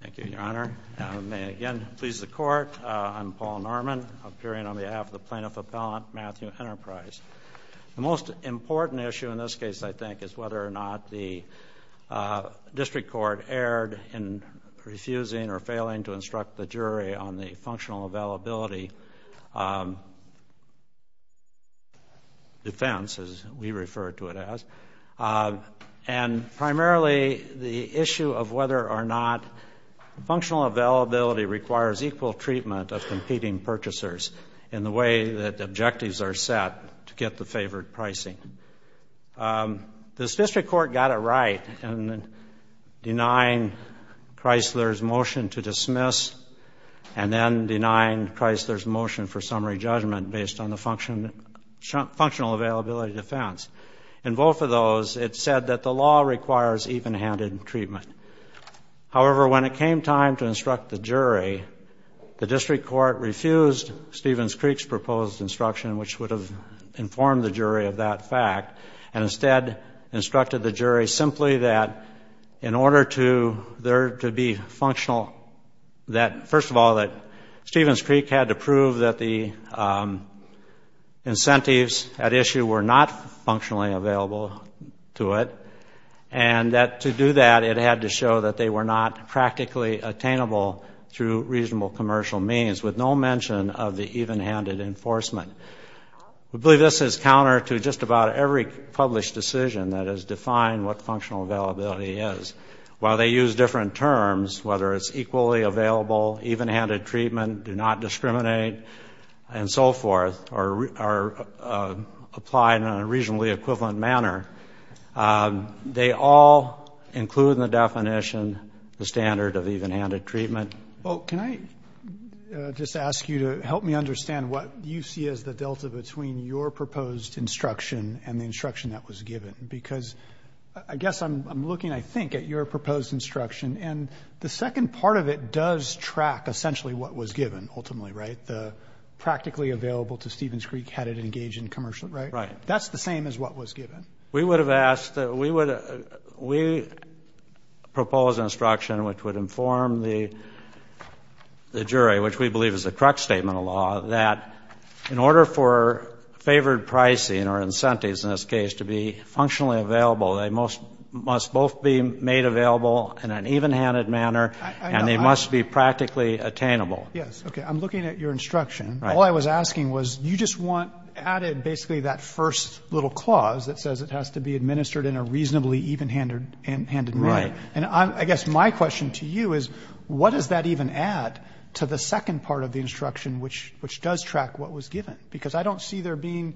Thank you, Your Honor. May it again please the Court, I'm Paul Norman, appearing on behalf of the Plaintiff Appellant, Matthew Enterprise. The most important issue in this case, I think, is whether or not the District Court erred in refusing or failing to instruct the jury on the functional availability defense, as we refer to it as. And primarily, the issue of whether or not functional availability requires equal treatment of competing purchasers in the way that objectives are set to get the favored pricing. The District Court got it right in denying Chrysler's motion to dismiss and then denying Chrysler's motion for summary judgment based on the functional availability defense. In both of those, it said that the However, when it came time to instruct the jury, the District Court refused Stevens-Creek's proposed instruction, which would have informed the jury of that fact, and instead instructed the jury simply that, in order to be functional, that, first of all, that Stevens-Creek had to prove that the incentives at issue were not functionally available to it, and that to do that, it had to show that they were not practically attainable through reasonable commercial means, with no mention of the evenhanded enforcement. I believe this is counter to just about every published decision that has defined what functional availability is. While they use different terms, whether it's equally available, evenhanded treatment, do not discriminate, and so forth, are applied in a reasonably equivalent manner, they all include in the definition the standard of evenhanded treatment. Well, can I just ask you to help me understand what you see as the delta between your proposed instruction and the instruction that was given? Because I guess I'm looking, I think, at your proposed instruction, and the second part of it does track essentially what was given, ultimately, right? The practically available to Stevens-Creek had it engaged in commercial, right? Right. That's the same as what was given. We would have asked, we would, we proposed an instruction which would inform the jury, which we believe is a correct statement of law, that in order for favored pricing or incentives in this case to be functionally available, they must both be made available in an evenhanded manner, and they must be practically attainable. Yes. Okay. I'm looking at your instruction. All I was asking was, you just want added basically that first little clause that says it has to be administered in a reasonably evenhanded manner. Right. And I guess my question to you is, what does that even add to the second part of the instruction which does track what was given? Because I don't see there being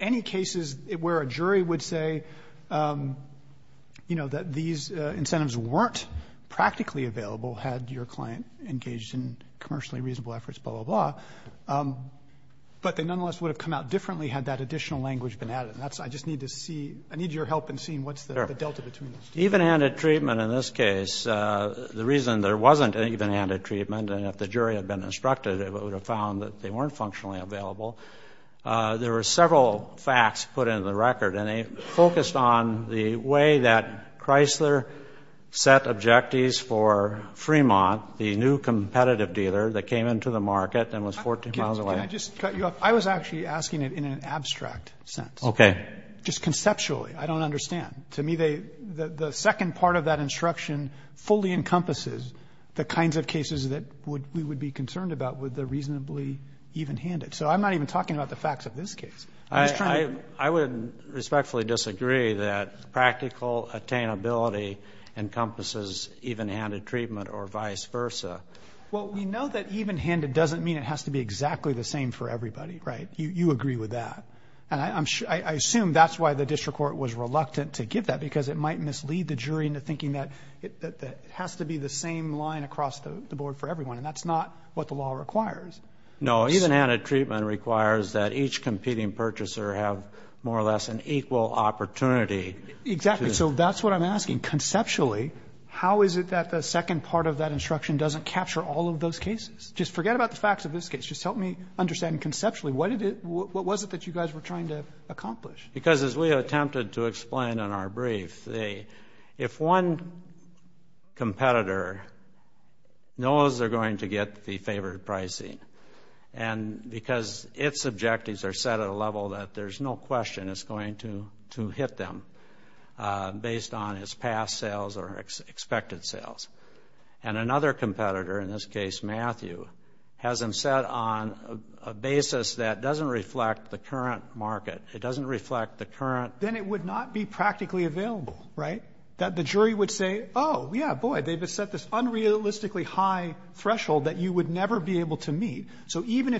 any cases where a jury would say, you know, that these incentives weren't practically available had your client engaged in commercially reasonable efforts, blah, blah, blah. But they nonetheless would have come out differently had that additional language been added. And that's, I just need to see, I need your help in seeing what's the delta between these two. Evenhanded treatment in this case, the reason there wasn't an evenhanded treatment, and if the jury had been instructed, it would have found that they weren't functionally available. There were several facts put into the record, and they focused on the way that two competitive dealer that came into the market and was 14 miles away. Can I just cut you off? I was actually asking it in an abstract sense. Okay. Just conceptually. I don't understand. To me, the second part of that instruction fully encompasses the kinds of cases that we would be concerned about with the reasonably evenhanded. So I'm not even talking about the facts of this case. I would respectfully disagree that practical attainability encompasses evenhanded treatment or vice versa. Well, we know that evenhanded doesn't mean it has to be exactly the same for everybody, right? You agree with that. And I assume that's why the district court was reluctant to give that, because it might mislead the jury into thinking that it has to be the same line across the board for everyone. And that's not what the law requires. No. Evenhanded treatment requires that each competing purchaser have more or less an equal opportunity to Okay. So that's what I'm asking. Conceptually, how is it that the second part of that instruction doesn't capture all of those cases? Just forget about the facts of this case. Just help me understand conceptually, what was it that you guys were trying to accomplish? Because as we have attempted to explain in our brief, if one competitor knows they're going to get the favored pricing, and because its objectives are set at a level that there's no question it's going to hit them based on its past sales or expected sales, and another competitor, in this case Matthew, has them set on a basis that doesn't reflect the current market, it doesn't reflect the current Then it would not be practically available, right? That the jury would say, oh, yeah, boy, they've set this unrealistically high threshold that you would never be able to That's not how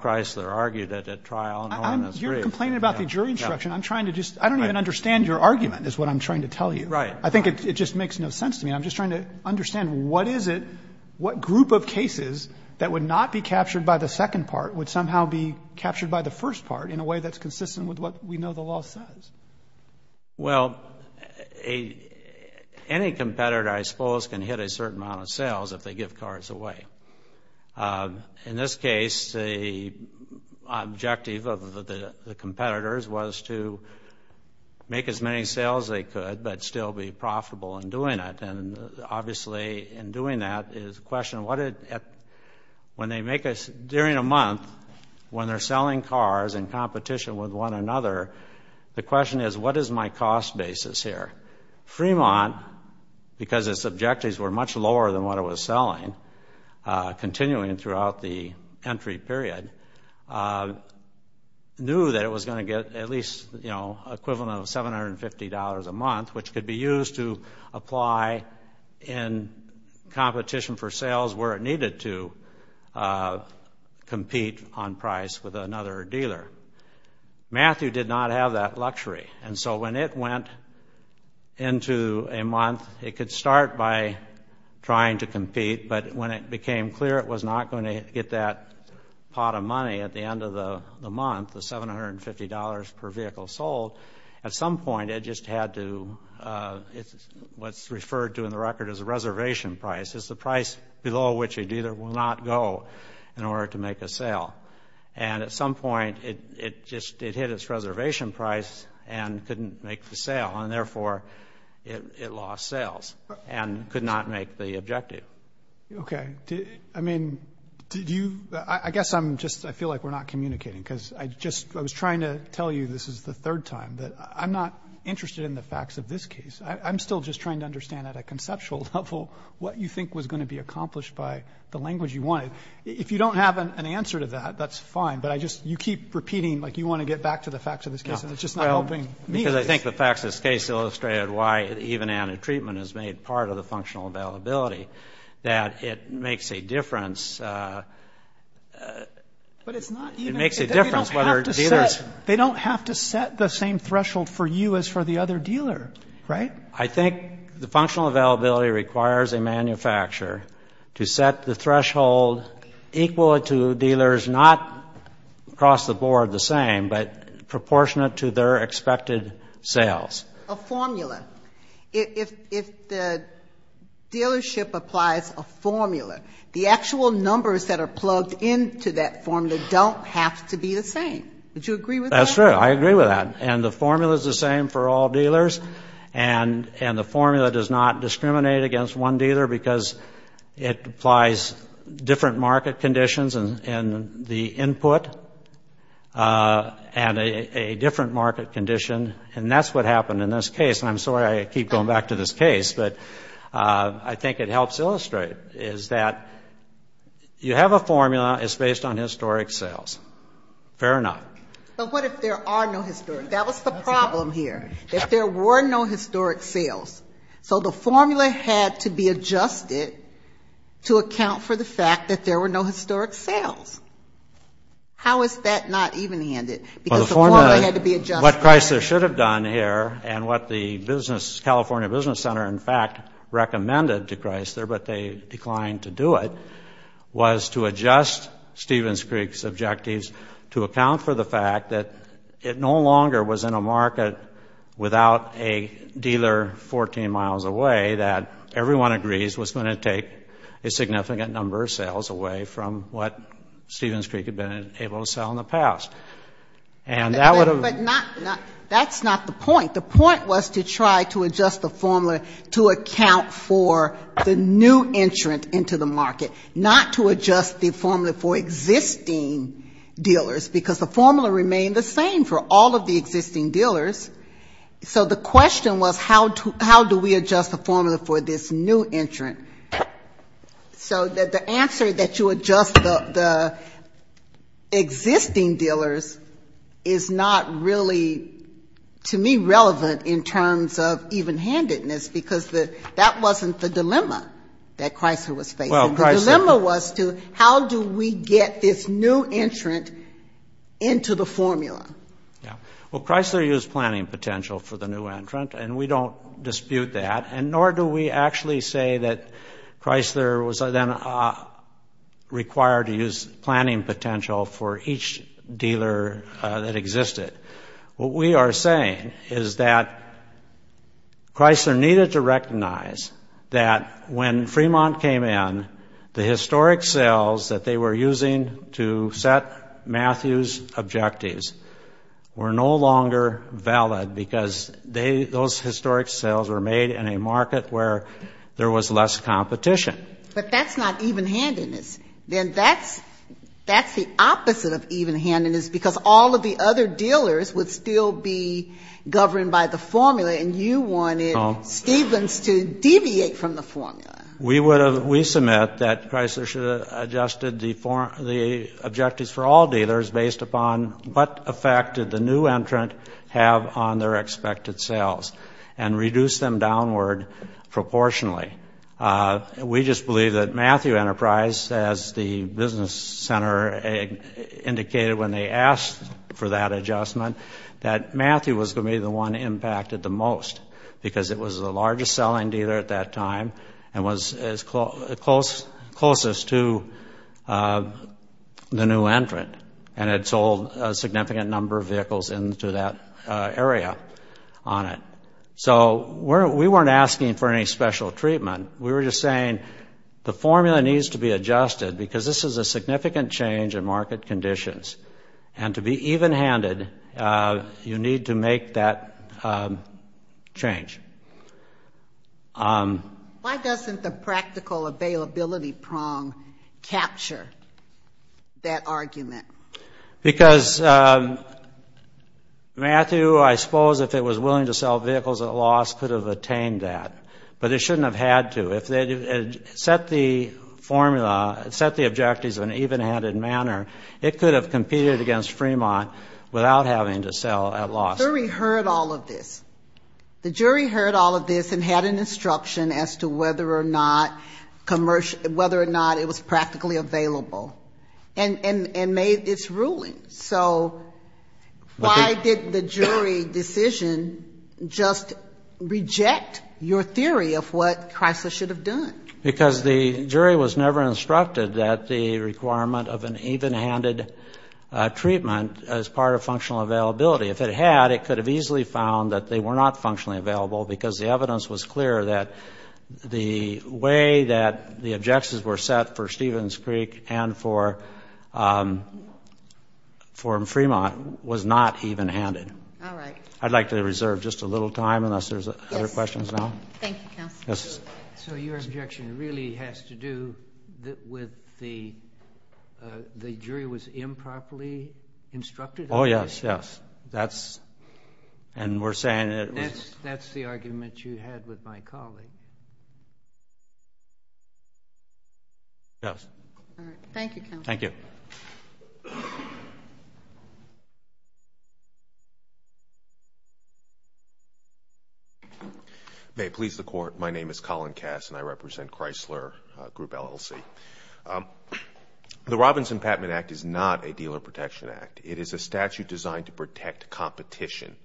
Chrysler argued it at trial in Horn and Threave. You're complaining about the jury instruction. I'm trying to just, I don't even understand your argument is what I'm trying to tell you. Right. I think it just makes no sense to me. I'm just trying to understand what is it, what group of cases that would not be captured by the second part would somehow be captured by the first part in a way that's consistent with what we know the law says? Well, any competitor, I suppose, can hit a certain amount of sales if they give cars away. In this case, the objective of the competitors was to make as many sales as they could but still be profitable in doing it, and obviously in doing that is a question of what, when they make a, during a month, when they're selling cars in competition with one another, the question is, what is my cost basis here? Fremont, because its objectives were much lower than what it was selling, continuing throughout the entry period, knew that it was going to get at least, you know, equivalent of $750 a month, which could be used to apply in competition for sales where it needed to compete on price with another dealer. Matthew did not have that luxury, and so when it went into a month, it could start by trying to compete, but when it became clear it was not going to get that pot of money at the end of the month, the $750 per vehicle sold, at some point it just had to, what's referred to in the record as a reservation price, is a price below which a dealer will not go in order to make a sale, and at some point it just, it hit its reservation price and couldn't make the sale, and therefore it lost sales and could not make the objective. Okay. I mean, did you, I guess I'm just, I feel like we're not communicating because I just, I was trying to tell you this is the third time that I'm not interested in the facts of this case. I'm still just trying to understand at a conceptual level what you think was going to be accomplished by the language you wanted. If you don't have an answer to that, that's fine, but I just, you keep repeating, like you want to get back to the facts of this case, and it's just not helping me. Because I think the facts of this case illustrated why even added treatment is made part of the functional availability, that it makes a difference, it makes a difference whether a dealer's They don't have to set the same threshold for you as for the other dealer, right? I think the functional availability requires a manufacturer to set the threshold equal to dealers not across the board the same, but proportionate to their expected sales. A formula. If the dealership applies a formula, the actual numbers that are plugged into that formula don't have to be the same. Would you agree with that? That's true. I agree with that. And the formula's the same for all dealers, and the formula does not discriminate against one dealer because it applies different market conditions in the input and a different market condition, and that's what happened in this case. And I'm sorry I keep going back to this case, but I think it helps illustrate is that you have a formula, it's based on historic sales. Fair enough. But what if there are no historic? That was the problem here. If there were no historic sales, so the formula had to be adjusted to account for the fact that there were no historic sales. How is that not even-handed? Because the formula had to be adjusted. What Chrysler should have done here, and what the business, California Business Center, in fact, recommended to Chrysler, but they declined to do it, was to adjust Stevens Creek's to account for the fact that it no longer was in a market without a dealer 14 miles away that everyone agrees was going to take a significant number of sales away from what Stevens Creek had been able to sell in the past. And that would have- That's not the point. The point was to try to adjust the formula to account for the new entrant into the market, not to adjust the formula for existing dealers, because the formula remained the same for all of the existing dealers. So the question was how do we adjust the formula for this new entrant? So that the answer that you adjust the existing dealers is not really to me relevant in terms of even-handedness, because that wasn't the dilemma that Chrysler was facing. The dilemma was to how do we get this new entrant into the formula? Well, Chrysler used planning potential for the new entrant, and we don't dispute that, and nor do we actually say that Chrysler was then required to use planning potential for each dealer that existed. What we are saying is that Chrysler needed to recognize that when Fremont came in, the historic sales that they were using to set Matthew's objectives were no longer valid, because those historic sales were made in a market where there was less competition. But that's not even-handedness. Then that's the opposite of even-handedness, because all of the other dealers would still be governed by the formula, and you wanted Stevens to use the formula. We submit that Chrysler should have adjusted the objectives for all dealers based upon what effect did the new entrant have on their expected sales, and reduce them downward proportionally. We just believe that Matthew Enterprise, as the business center indicated when they asked for that adjustment, that Matthew was going to be the one impacted the most, because it was the largest selling dealer at that time, and was closest to the new entrant, and it sold a significant number of vehicles into that area on it. So we weren't asking for any special treatment. We were just saying the formula needs to be adjusted, because this is a significant change in market conditions, and to be even-handed, you need to make that change. Why doesn't the practical availability prong capture that argument? Because Matthew, I suppose, if it was willing to sell vehicles at a loss, could have attained that. But it shouldn't have had to. If they had set the formula, set the objectives in an even-handed manner, it could have competed against Fremont without having to sell at loss. The jury heard all of this. The jury heard all of this and had an instruction as to whether or not it was practically available, and made its ruling. So why did the jury decision just reject your theory of what Chrysler should have done? Because the jury was never instructed that the requirement of an even-handed treatment as part of functional availability. If it had, it could have easily found that they were not functionally available, because the evidence was clear that the way that the objectives were set for Stevens Creek and for Fremont was not even-handed. I'd like to reserve just a little time, unless there's other questions now. Thank you, Counsel. So your objection really has to do with the jury was improperly instructed? Oh, yes, yes. That's, and we're saying that... That's the argument you had with my colleague. Yes. All right. Thank you, Counsel. Thank you. May it please the Court. My name is Colin Cass, and I represent Chrysler Group, LLC. The Robinson-Patman Act is not a dealer protection act. It is a statute designed to protect competition.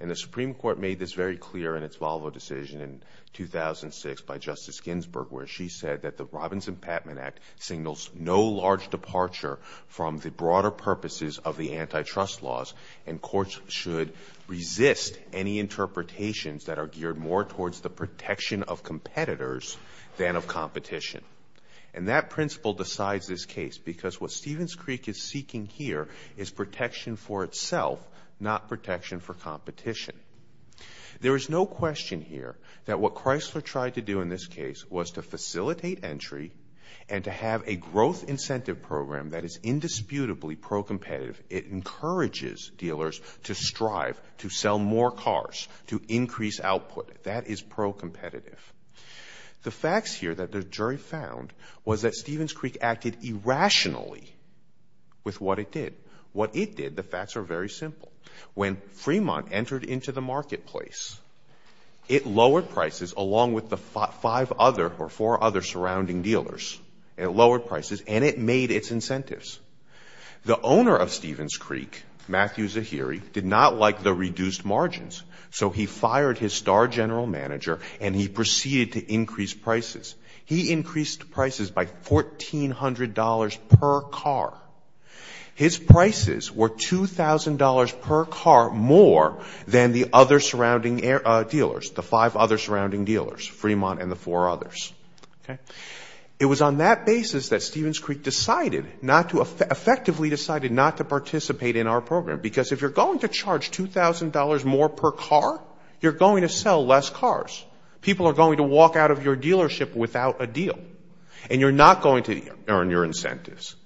And the Supreme Court made this very clear in its Volvo decision in 2006 by Justice Ginsburg, where she said that the Robinson-Patman Act signals no large departure from the broader purposes of the antitrust laws, and courts should resist any interpretations that are geared more towards the protection of competitors than of competition. And that principle decides this case, because what Stevens Creek is seeking here is protection for itself, not protection for competition. There is no question here that what Chrysler tried to do in this case was to facilitate entry and to have a growth incentive program that is indisputably pro-competitive. It encourages dealers to strive to sell more cars, to increase output. That is pro-competitive. The facts here that the jury found was that Stevens Creek acted irrationally with what it did. What it did, the facts are very simple. When Fremont entered into the marketplace, it lowered prices along with the five other or four other surrounding dealers. It lowered prices, and it made its incentives. The owner of Stevens Creek, Matthew Zahiri, did not like the reduced margins, so he fired his star general manager, and he proceeded to increase prices. He increased prices by $1,400 per car. His prices were $2,000 per car more than the other surrounding dealers, the five other surrounding dealers, Fremont and the four others. It was on that basis that Stevens Creek decided not to, effectively decided not to participate in our program, because if you're going to charge $2,000 more per car, you're going to sell less cars. People are going to walk out of your dealership without a deal, and you're not going to earn your incentives.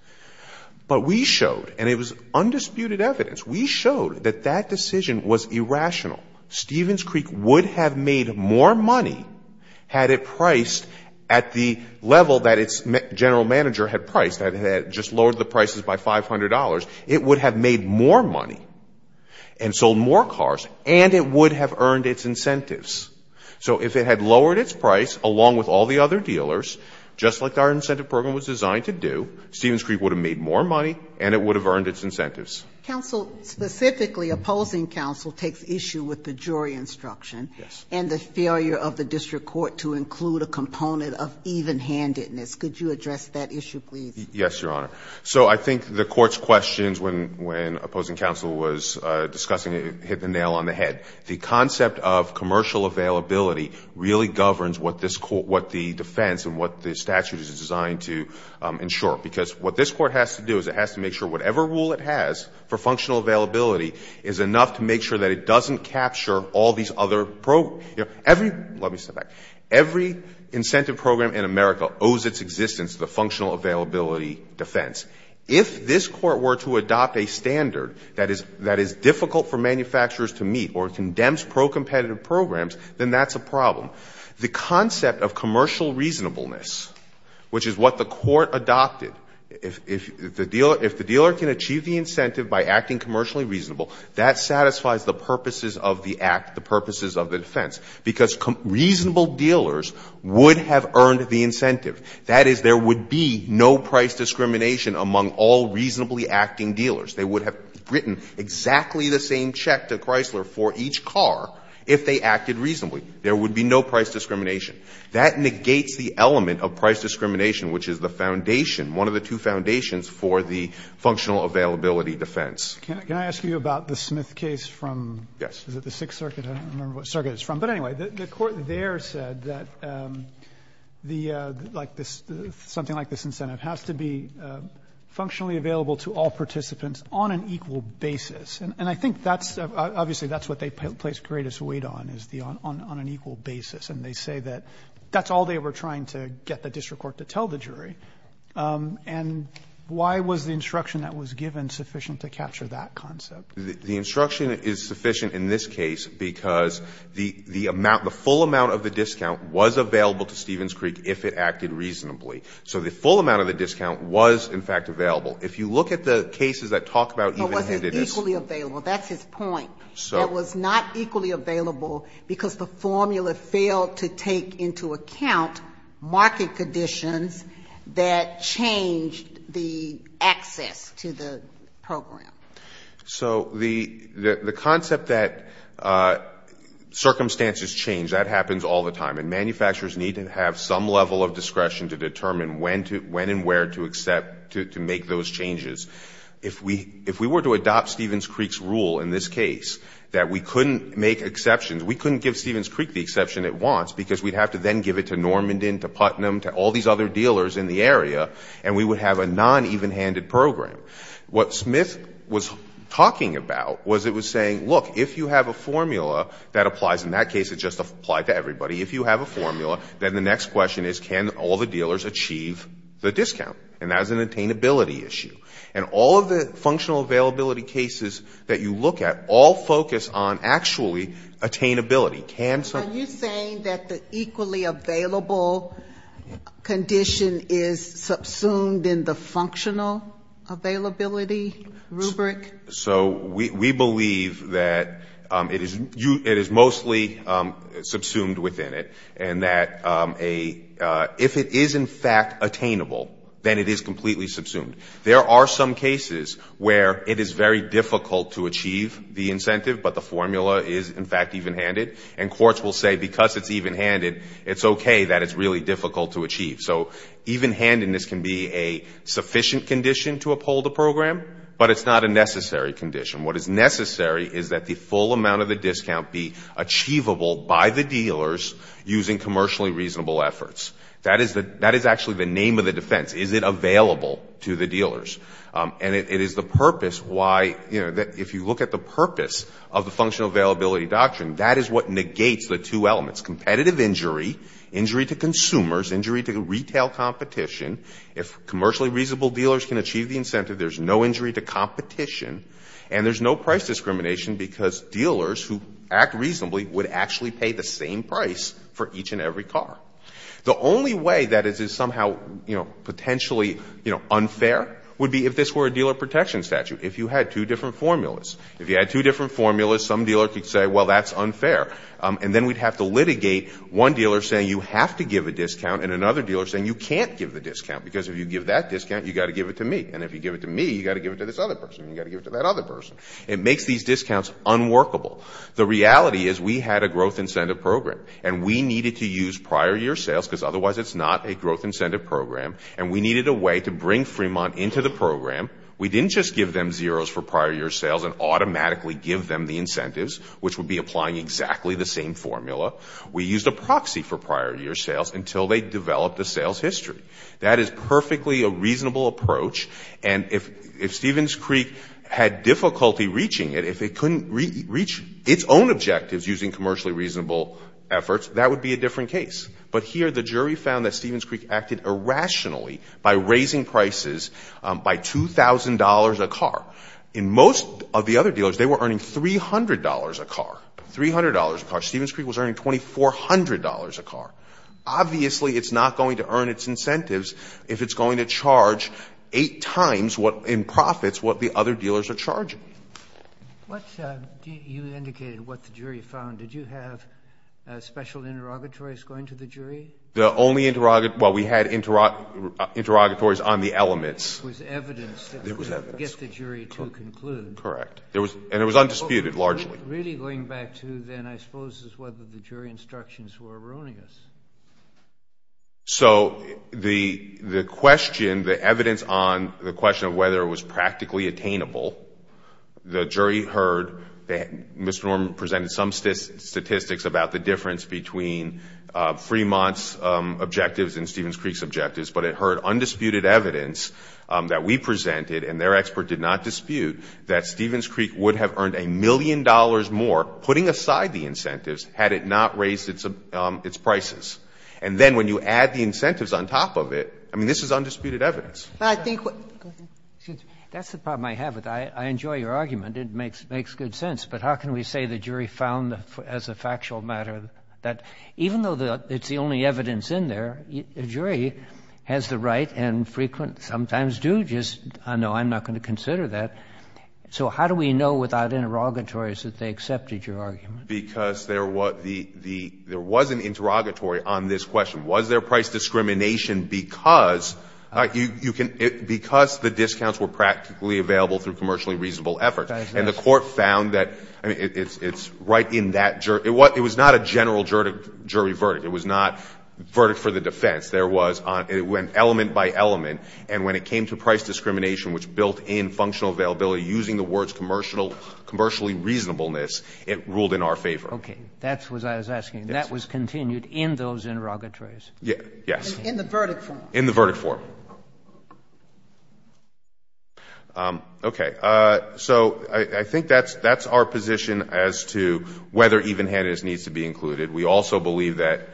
But we showed, and it was undisputed evidence, we showed that that decision was irrational. Stevens Creek would have made more money had it priced at the level that its general manager had priced. It had just lowered the prices by $500. It would have made more money and sold more cars, and it would have earned its incentives. So if it had lowered its price along with all the other dealers, just like our incentive program was designed to do, Stevens Creek would have made more money, and it would have earned its incentives. Counsel, specifically opposing counsel takes issue with the jury instruction and the failure of the district court to include a component of even-handedness. Could you address that issue, please? Yes, Your Honor. So I think the court's questions when opposing counsel was discussing it hit the nail on the head. The concept of commercial availability really governs what the defense and what the statute is designed to ensure, because what this court has to do is it has to make sure whatever rule it has for functional availability is enough to make sure that it doesn't capture all these other programs. Every incentive program in America owes its existence to the functional availability defense. If this court were to adopt a standard that is difficult for manufacturers to meet or condemns pro-competitive programs, then that's a problem. The concept of commercial reasonableness, which is what the court adopted, if the dealer can achieve the incentive by acting commercially reasonable, that satisfies the purposes of the act, the purposes of the defense, because reasonable dealers would have earned the incentive. That is, there would be no price discrimination among all reasonably acting dealers. They would have written exactly the same check to Chrysler for each car if they acted reasonably. There would be no price discrimination. That negates the element of price discrimination, which is the foundation, one of the two foundations for the functional availability defense. Roberts. Can I ask you about the Smith case from? Yes. Is it the Sixth Circuit? I don't remember what circuit it's from. But anyway, the court there said that the, like this, something like this incentive has to be functionally available to all participants on an equal basis. And I think that's, obviously that's what they place greatest weight on, is the on an equal basis. And they say that that's all they were trying to get the district court to tell the jury. And why was the instruction that was given sufficient to capture that concept? The instruction is sufficient in this case because the amount, the full amount of the discount was available to Stevens Creek if it acted reasonably. So the full amount of the discount was in fact available. If you look at the cases that talk about. Was it easily available? That's his point. So it was not equally available because the formula failed to take into account market conditions that changed the access to the program. So the, the concept that circumstances change, that happens all the time and manufacturers need to have some level of discretion to determine when to, when and where to accept, to make those changes. If we, if we were to adopt Stevens Creek's rule in this case that we couldn't make exceptions, we couldn't give Stevens Creek the exception at once because we'd have to then give it to Normand into Putnam, to all these other dealers in the area and we would have a non even handed program. What Smith was talking about was it was saying, look, if you have a formula that applies in that case, it just applied to everybody. If you have a formula, then the next question is, can all the dealers achieve the discount? And that was an attainability issue. And all of the functional availability cases that you look at all focus on actually attainability. Can you say that the equally available condition is subsumed in the functional availability rubric? So we, we believe that it is, it is mostly subsumed within it and that a, if it is in fact attainable, then it is completely subsumed. There are some cases where it is very difficult to achieve the incentive, but the formula is in fact even handed and courts will say, because it's even handed, it's okay that it's really difficult to achieve. So even handedness can be a sufficient condition to uphold the program, but it's not a necessary condition. What is necessary is that the full amount of the discount be achievable by the dealers using commercially reasonable efforts. That is the, that is actually the name of the defense. Is it available to the dealers? And it, it is the purpose why, you know, if you look at the purpose of the functional availability doctrine, that is what negates the two elements. Competitive injury, injury to consumers, injury to retail competition. If commercially reasonable dealers can achieve the incentive, there's no injury to competition and there's no price discrimination because dealers who act reasonably would actually pay the same price for each and every car. The only way that it is somehow, you know, potentially, you know, unfair would be if this were a dealer protection statute. If you had two different formulas, if you had two different formulas, some dealer could say, well, that's unfair. And then we'd have to litigate one dealer saying you have to give a discount and another dealer saying you can't give the discount because if you give that discount, you've got to give it to me. And if you give it to me, you've got to give it to this other person. You've got to give it to that other person. It makes these discounts unworkable. The reality is we had a growth incentive program and we needed to use prior year sales because otherwise it's not a growth incentive program and we needed a way to bring Fremont into the program. We didn't just give them zeros for prior year sales and automatically give them the incentives, which would be applying exactly the same formula. We used a proxy for prior year sales until they developed a sales history. That is perfectly a reasonable approach and if Stevens Creek had difficulty reaching it, if it couldn't reach its own objectives using commercially reasonable efforts, that would be a different case. But here the jury found that Stevens Creek acted irrationally by raising prices by $2,000 a car. In most of the other dealers, they were earning $300 a car. $300 a car. Stevens Creek was earning $2,400 a car. Obviously, it's not going to earn its incentives if it's going to charge eight times in profits what the other dealers are charging. You indicated what the jury found. Did you have special interrogatories going to the jury? The only interrogatory, well, we had interrogatories on the elements. There was evidence to get the jury to conclude. Correct. And it was undisputed, largely. Really going back to then, I suppose is whether the jury instructions were ruining us. So the question, the evidence on the question of whether it was practically attainable, the jury heard that Mr. Norman presented some statistics about the difference between Fremont's objectives and Stevens Creek's objectives, but it heard undisputed evidence that we presented and their expert did not dispute that Stevens Creek would have earned a million dollars more putting aside the incentives had it not raised its prices. And then when you add the incentives on top of it, I mean, this is undisputed evidence. That's the problem I have with it. I enjoy your argument. It makes good sense. But how can we say the jury found as a factual matter that even though it's the only evidence in there, the jury has the right and frequent sometimes do just, no, I'm not going to consider that. So how do we know without interrogatories that they accepted your argument? Because there was the, the, there was an interrogatory on this question. Was there price discrimination because you can, because the discounts were practically available through commercially reasonable effort. And the court found that it's right in that jury. It was not a general jury verdict. It was not verdict for the defense. There was an element by element. And when it came to price discrimination, which built in functional availability, using the words commercial commercially reasonableness, it ruled in our favor. Okay. That's what I was asking. That was continued in those interrogatories. Yeah. Yes. In the verdict form. In the verdict form. Okay. So I think that's, that's our position as to whether even-handedness needs to be included. We also believe that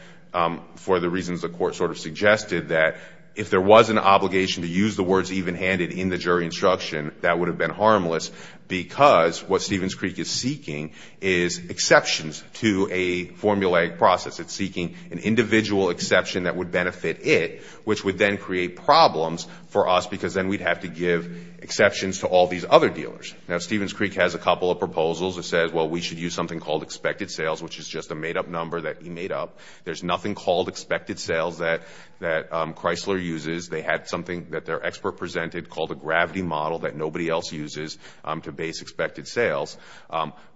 for the reasons the court sort of suggested that if there was an obligation to use the words even-handed in the jury instruction, that would have been harmless because what Stevens Creek is seeking is exceptions to a formulaic process. It's seeking an individual exception that would benefit it, which would then create problems for us because then we'd have to give exceptions to all these other dealers. Now, Stevens Creek has a couple of proposals that says, well, we should use something called expected sales, which is just a made up number that he made up. There's nothing called expected sales that Chrysler uses. They had something that their expert presented called a gravity model that nobody else uses to base expected sales.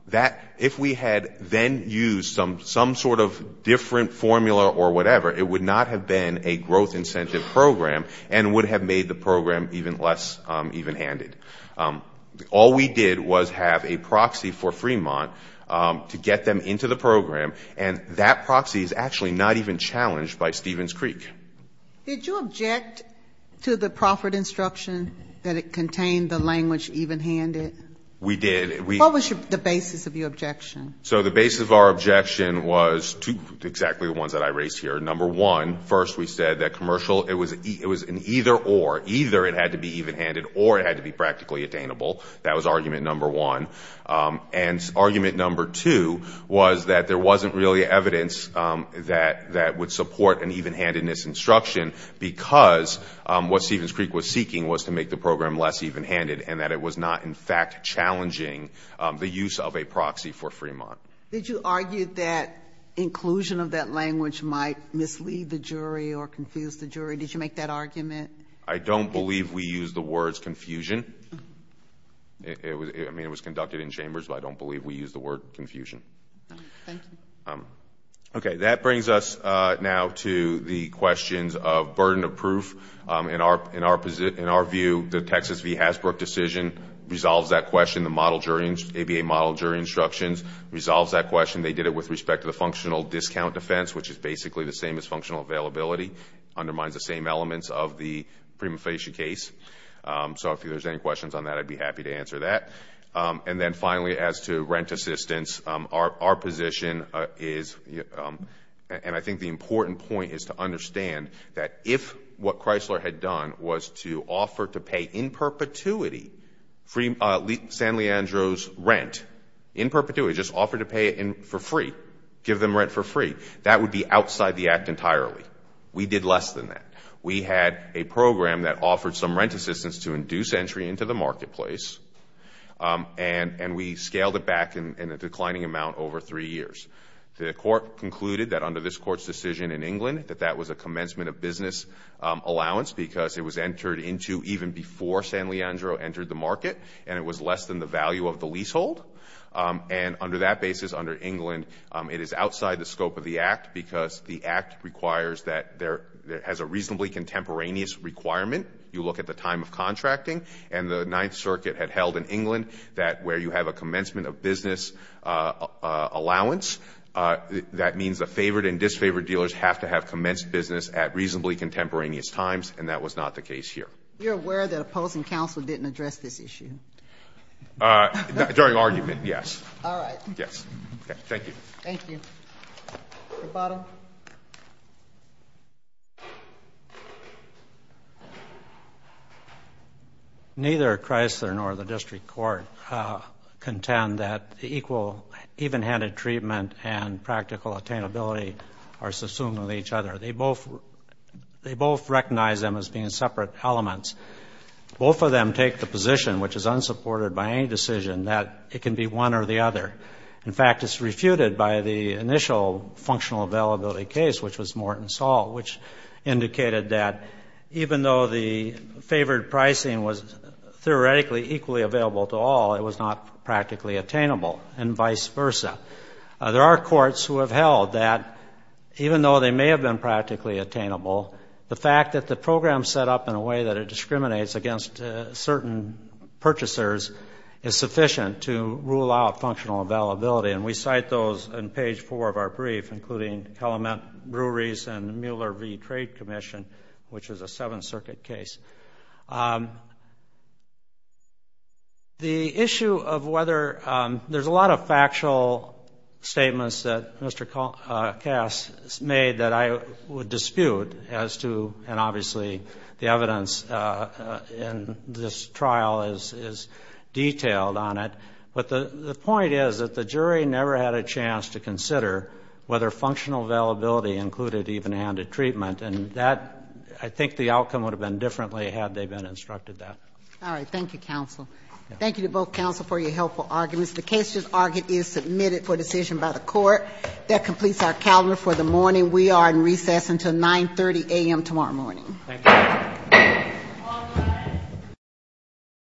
That, if we had then used some sort of different formula or whatever, it would not have been a growth incentive program and would have made the program even less even-handed. All we did was have a proxy for Fremont to get them into the program, and that proxy is actually not even challenged by Stevens Creek. Did you object to the Crawford instruction that it contained the language even-handed? We did. What was the basis of your objection? So the basis of our objection was exactly the ones that I raised here. Number one, first we said that commercial, it was an either or. Either it had to be even-handed or it had to be practically attainable. That was argument number one. And argument number two was that there wasn't really evidence that would support an even-handedness instruction because what Stevens Creek was seeking was to make the program less even-handed and that it was not, in fact, challenging the use of a proxy for Fremont. Did you argue that inclusion of that language might mislead the jury or confuse the jury? Did you make that argument? I don't believe we used the words confusion. I mean, it was conducted in chambers, but I don't believe we used the word confusion. Okay. Thank you. Okay. That brings us now to the questions of burden of proof. In our view, the Texas v. Hasbrook decision resolves that question. The ABA model jury instructions resolves that question. They did it with respect to the functional discount defense, which is basically the same as functional availability, undermines the same elements of the prima facie case. So, if there's any questions on that, I'd be happy to answer that. And then, finally, as to rent assistance, our position is, and I think the important point is to understand that if what Chrysler had done was to offer to pay in perpetuity San Leandro's rent, in perpetuity, just offer to pay it for free, give them rent for free, that would be outside the act entirely. We did less than that. We had a program that offered some rent assistance to induce entry into the marketplace, and we scaled it back in a declining amount over three years. The court concluded that under this court's decision in England, that that was a commencement of business allowance, because it was entered into even before San Leandro entered the market, and it was less than the value of the leasehold. And under that basis, under England, it is outside the scope of the act, because the act requires that there has a reasonably contemporaneous requirement. You look at the time of contracting, and the Ninth Circuit had held in England that where you have a commencement of business allowance, that means the favored and disfavored dealers have to have commenced business at reasonably contemporaneous times, and that was not the case here. You're aware that opposing counsel didn't address this issue? During argument, yes. All right. Yes. Thank you. Thank you. Roboto? Neither Chrysler nor the district court contend that the equal, even-handed treatment and practical attainability are subsumed with each other. They both recognize them as being separate elements. Both of them take the position, which is unsupported by any decision, that it can be one or the other. In fact, it's refuted by the initial functional availability case, which was Morton Saul, which indicated that even though the favored pricing was theoretically equally available to all, it was not practically attainable, and vice versa. There are courts who have held that even though they may have been practically attainable, the fact that the program is set up in a way that it discriminates against certain purchasers is sufficient to rule out functional availability, and we cite those in page four of our brief, including Hellermann Breweries and Mueller v. Trade Commission, which is a Seventh Circuit case. The issue of whether there's a lot of factual statements that Mr. Cass made that I would dispute as to, and obviously the evidence in this trial is detailed on it, but the point is that the jury never had a chance to consider whether functional availability included even-handed treatment, and I think the outcome would have been differently had they been instructed that. All right. Thank you, counsel. Thank you to both counsel for your helpful arguments. The case is submitted for decision by the court. That completes our calendar for the morning. We are in recess until 930 a.m. tomorrow morning. Thank you.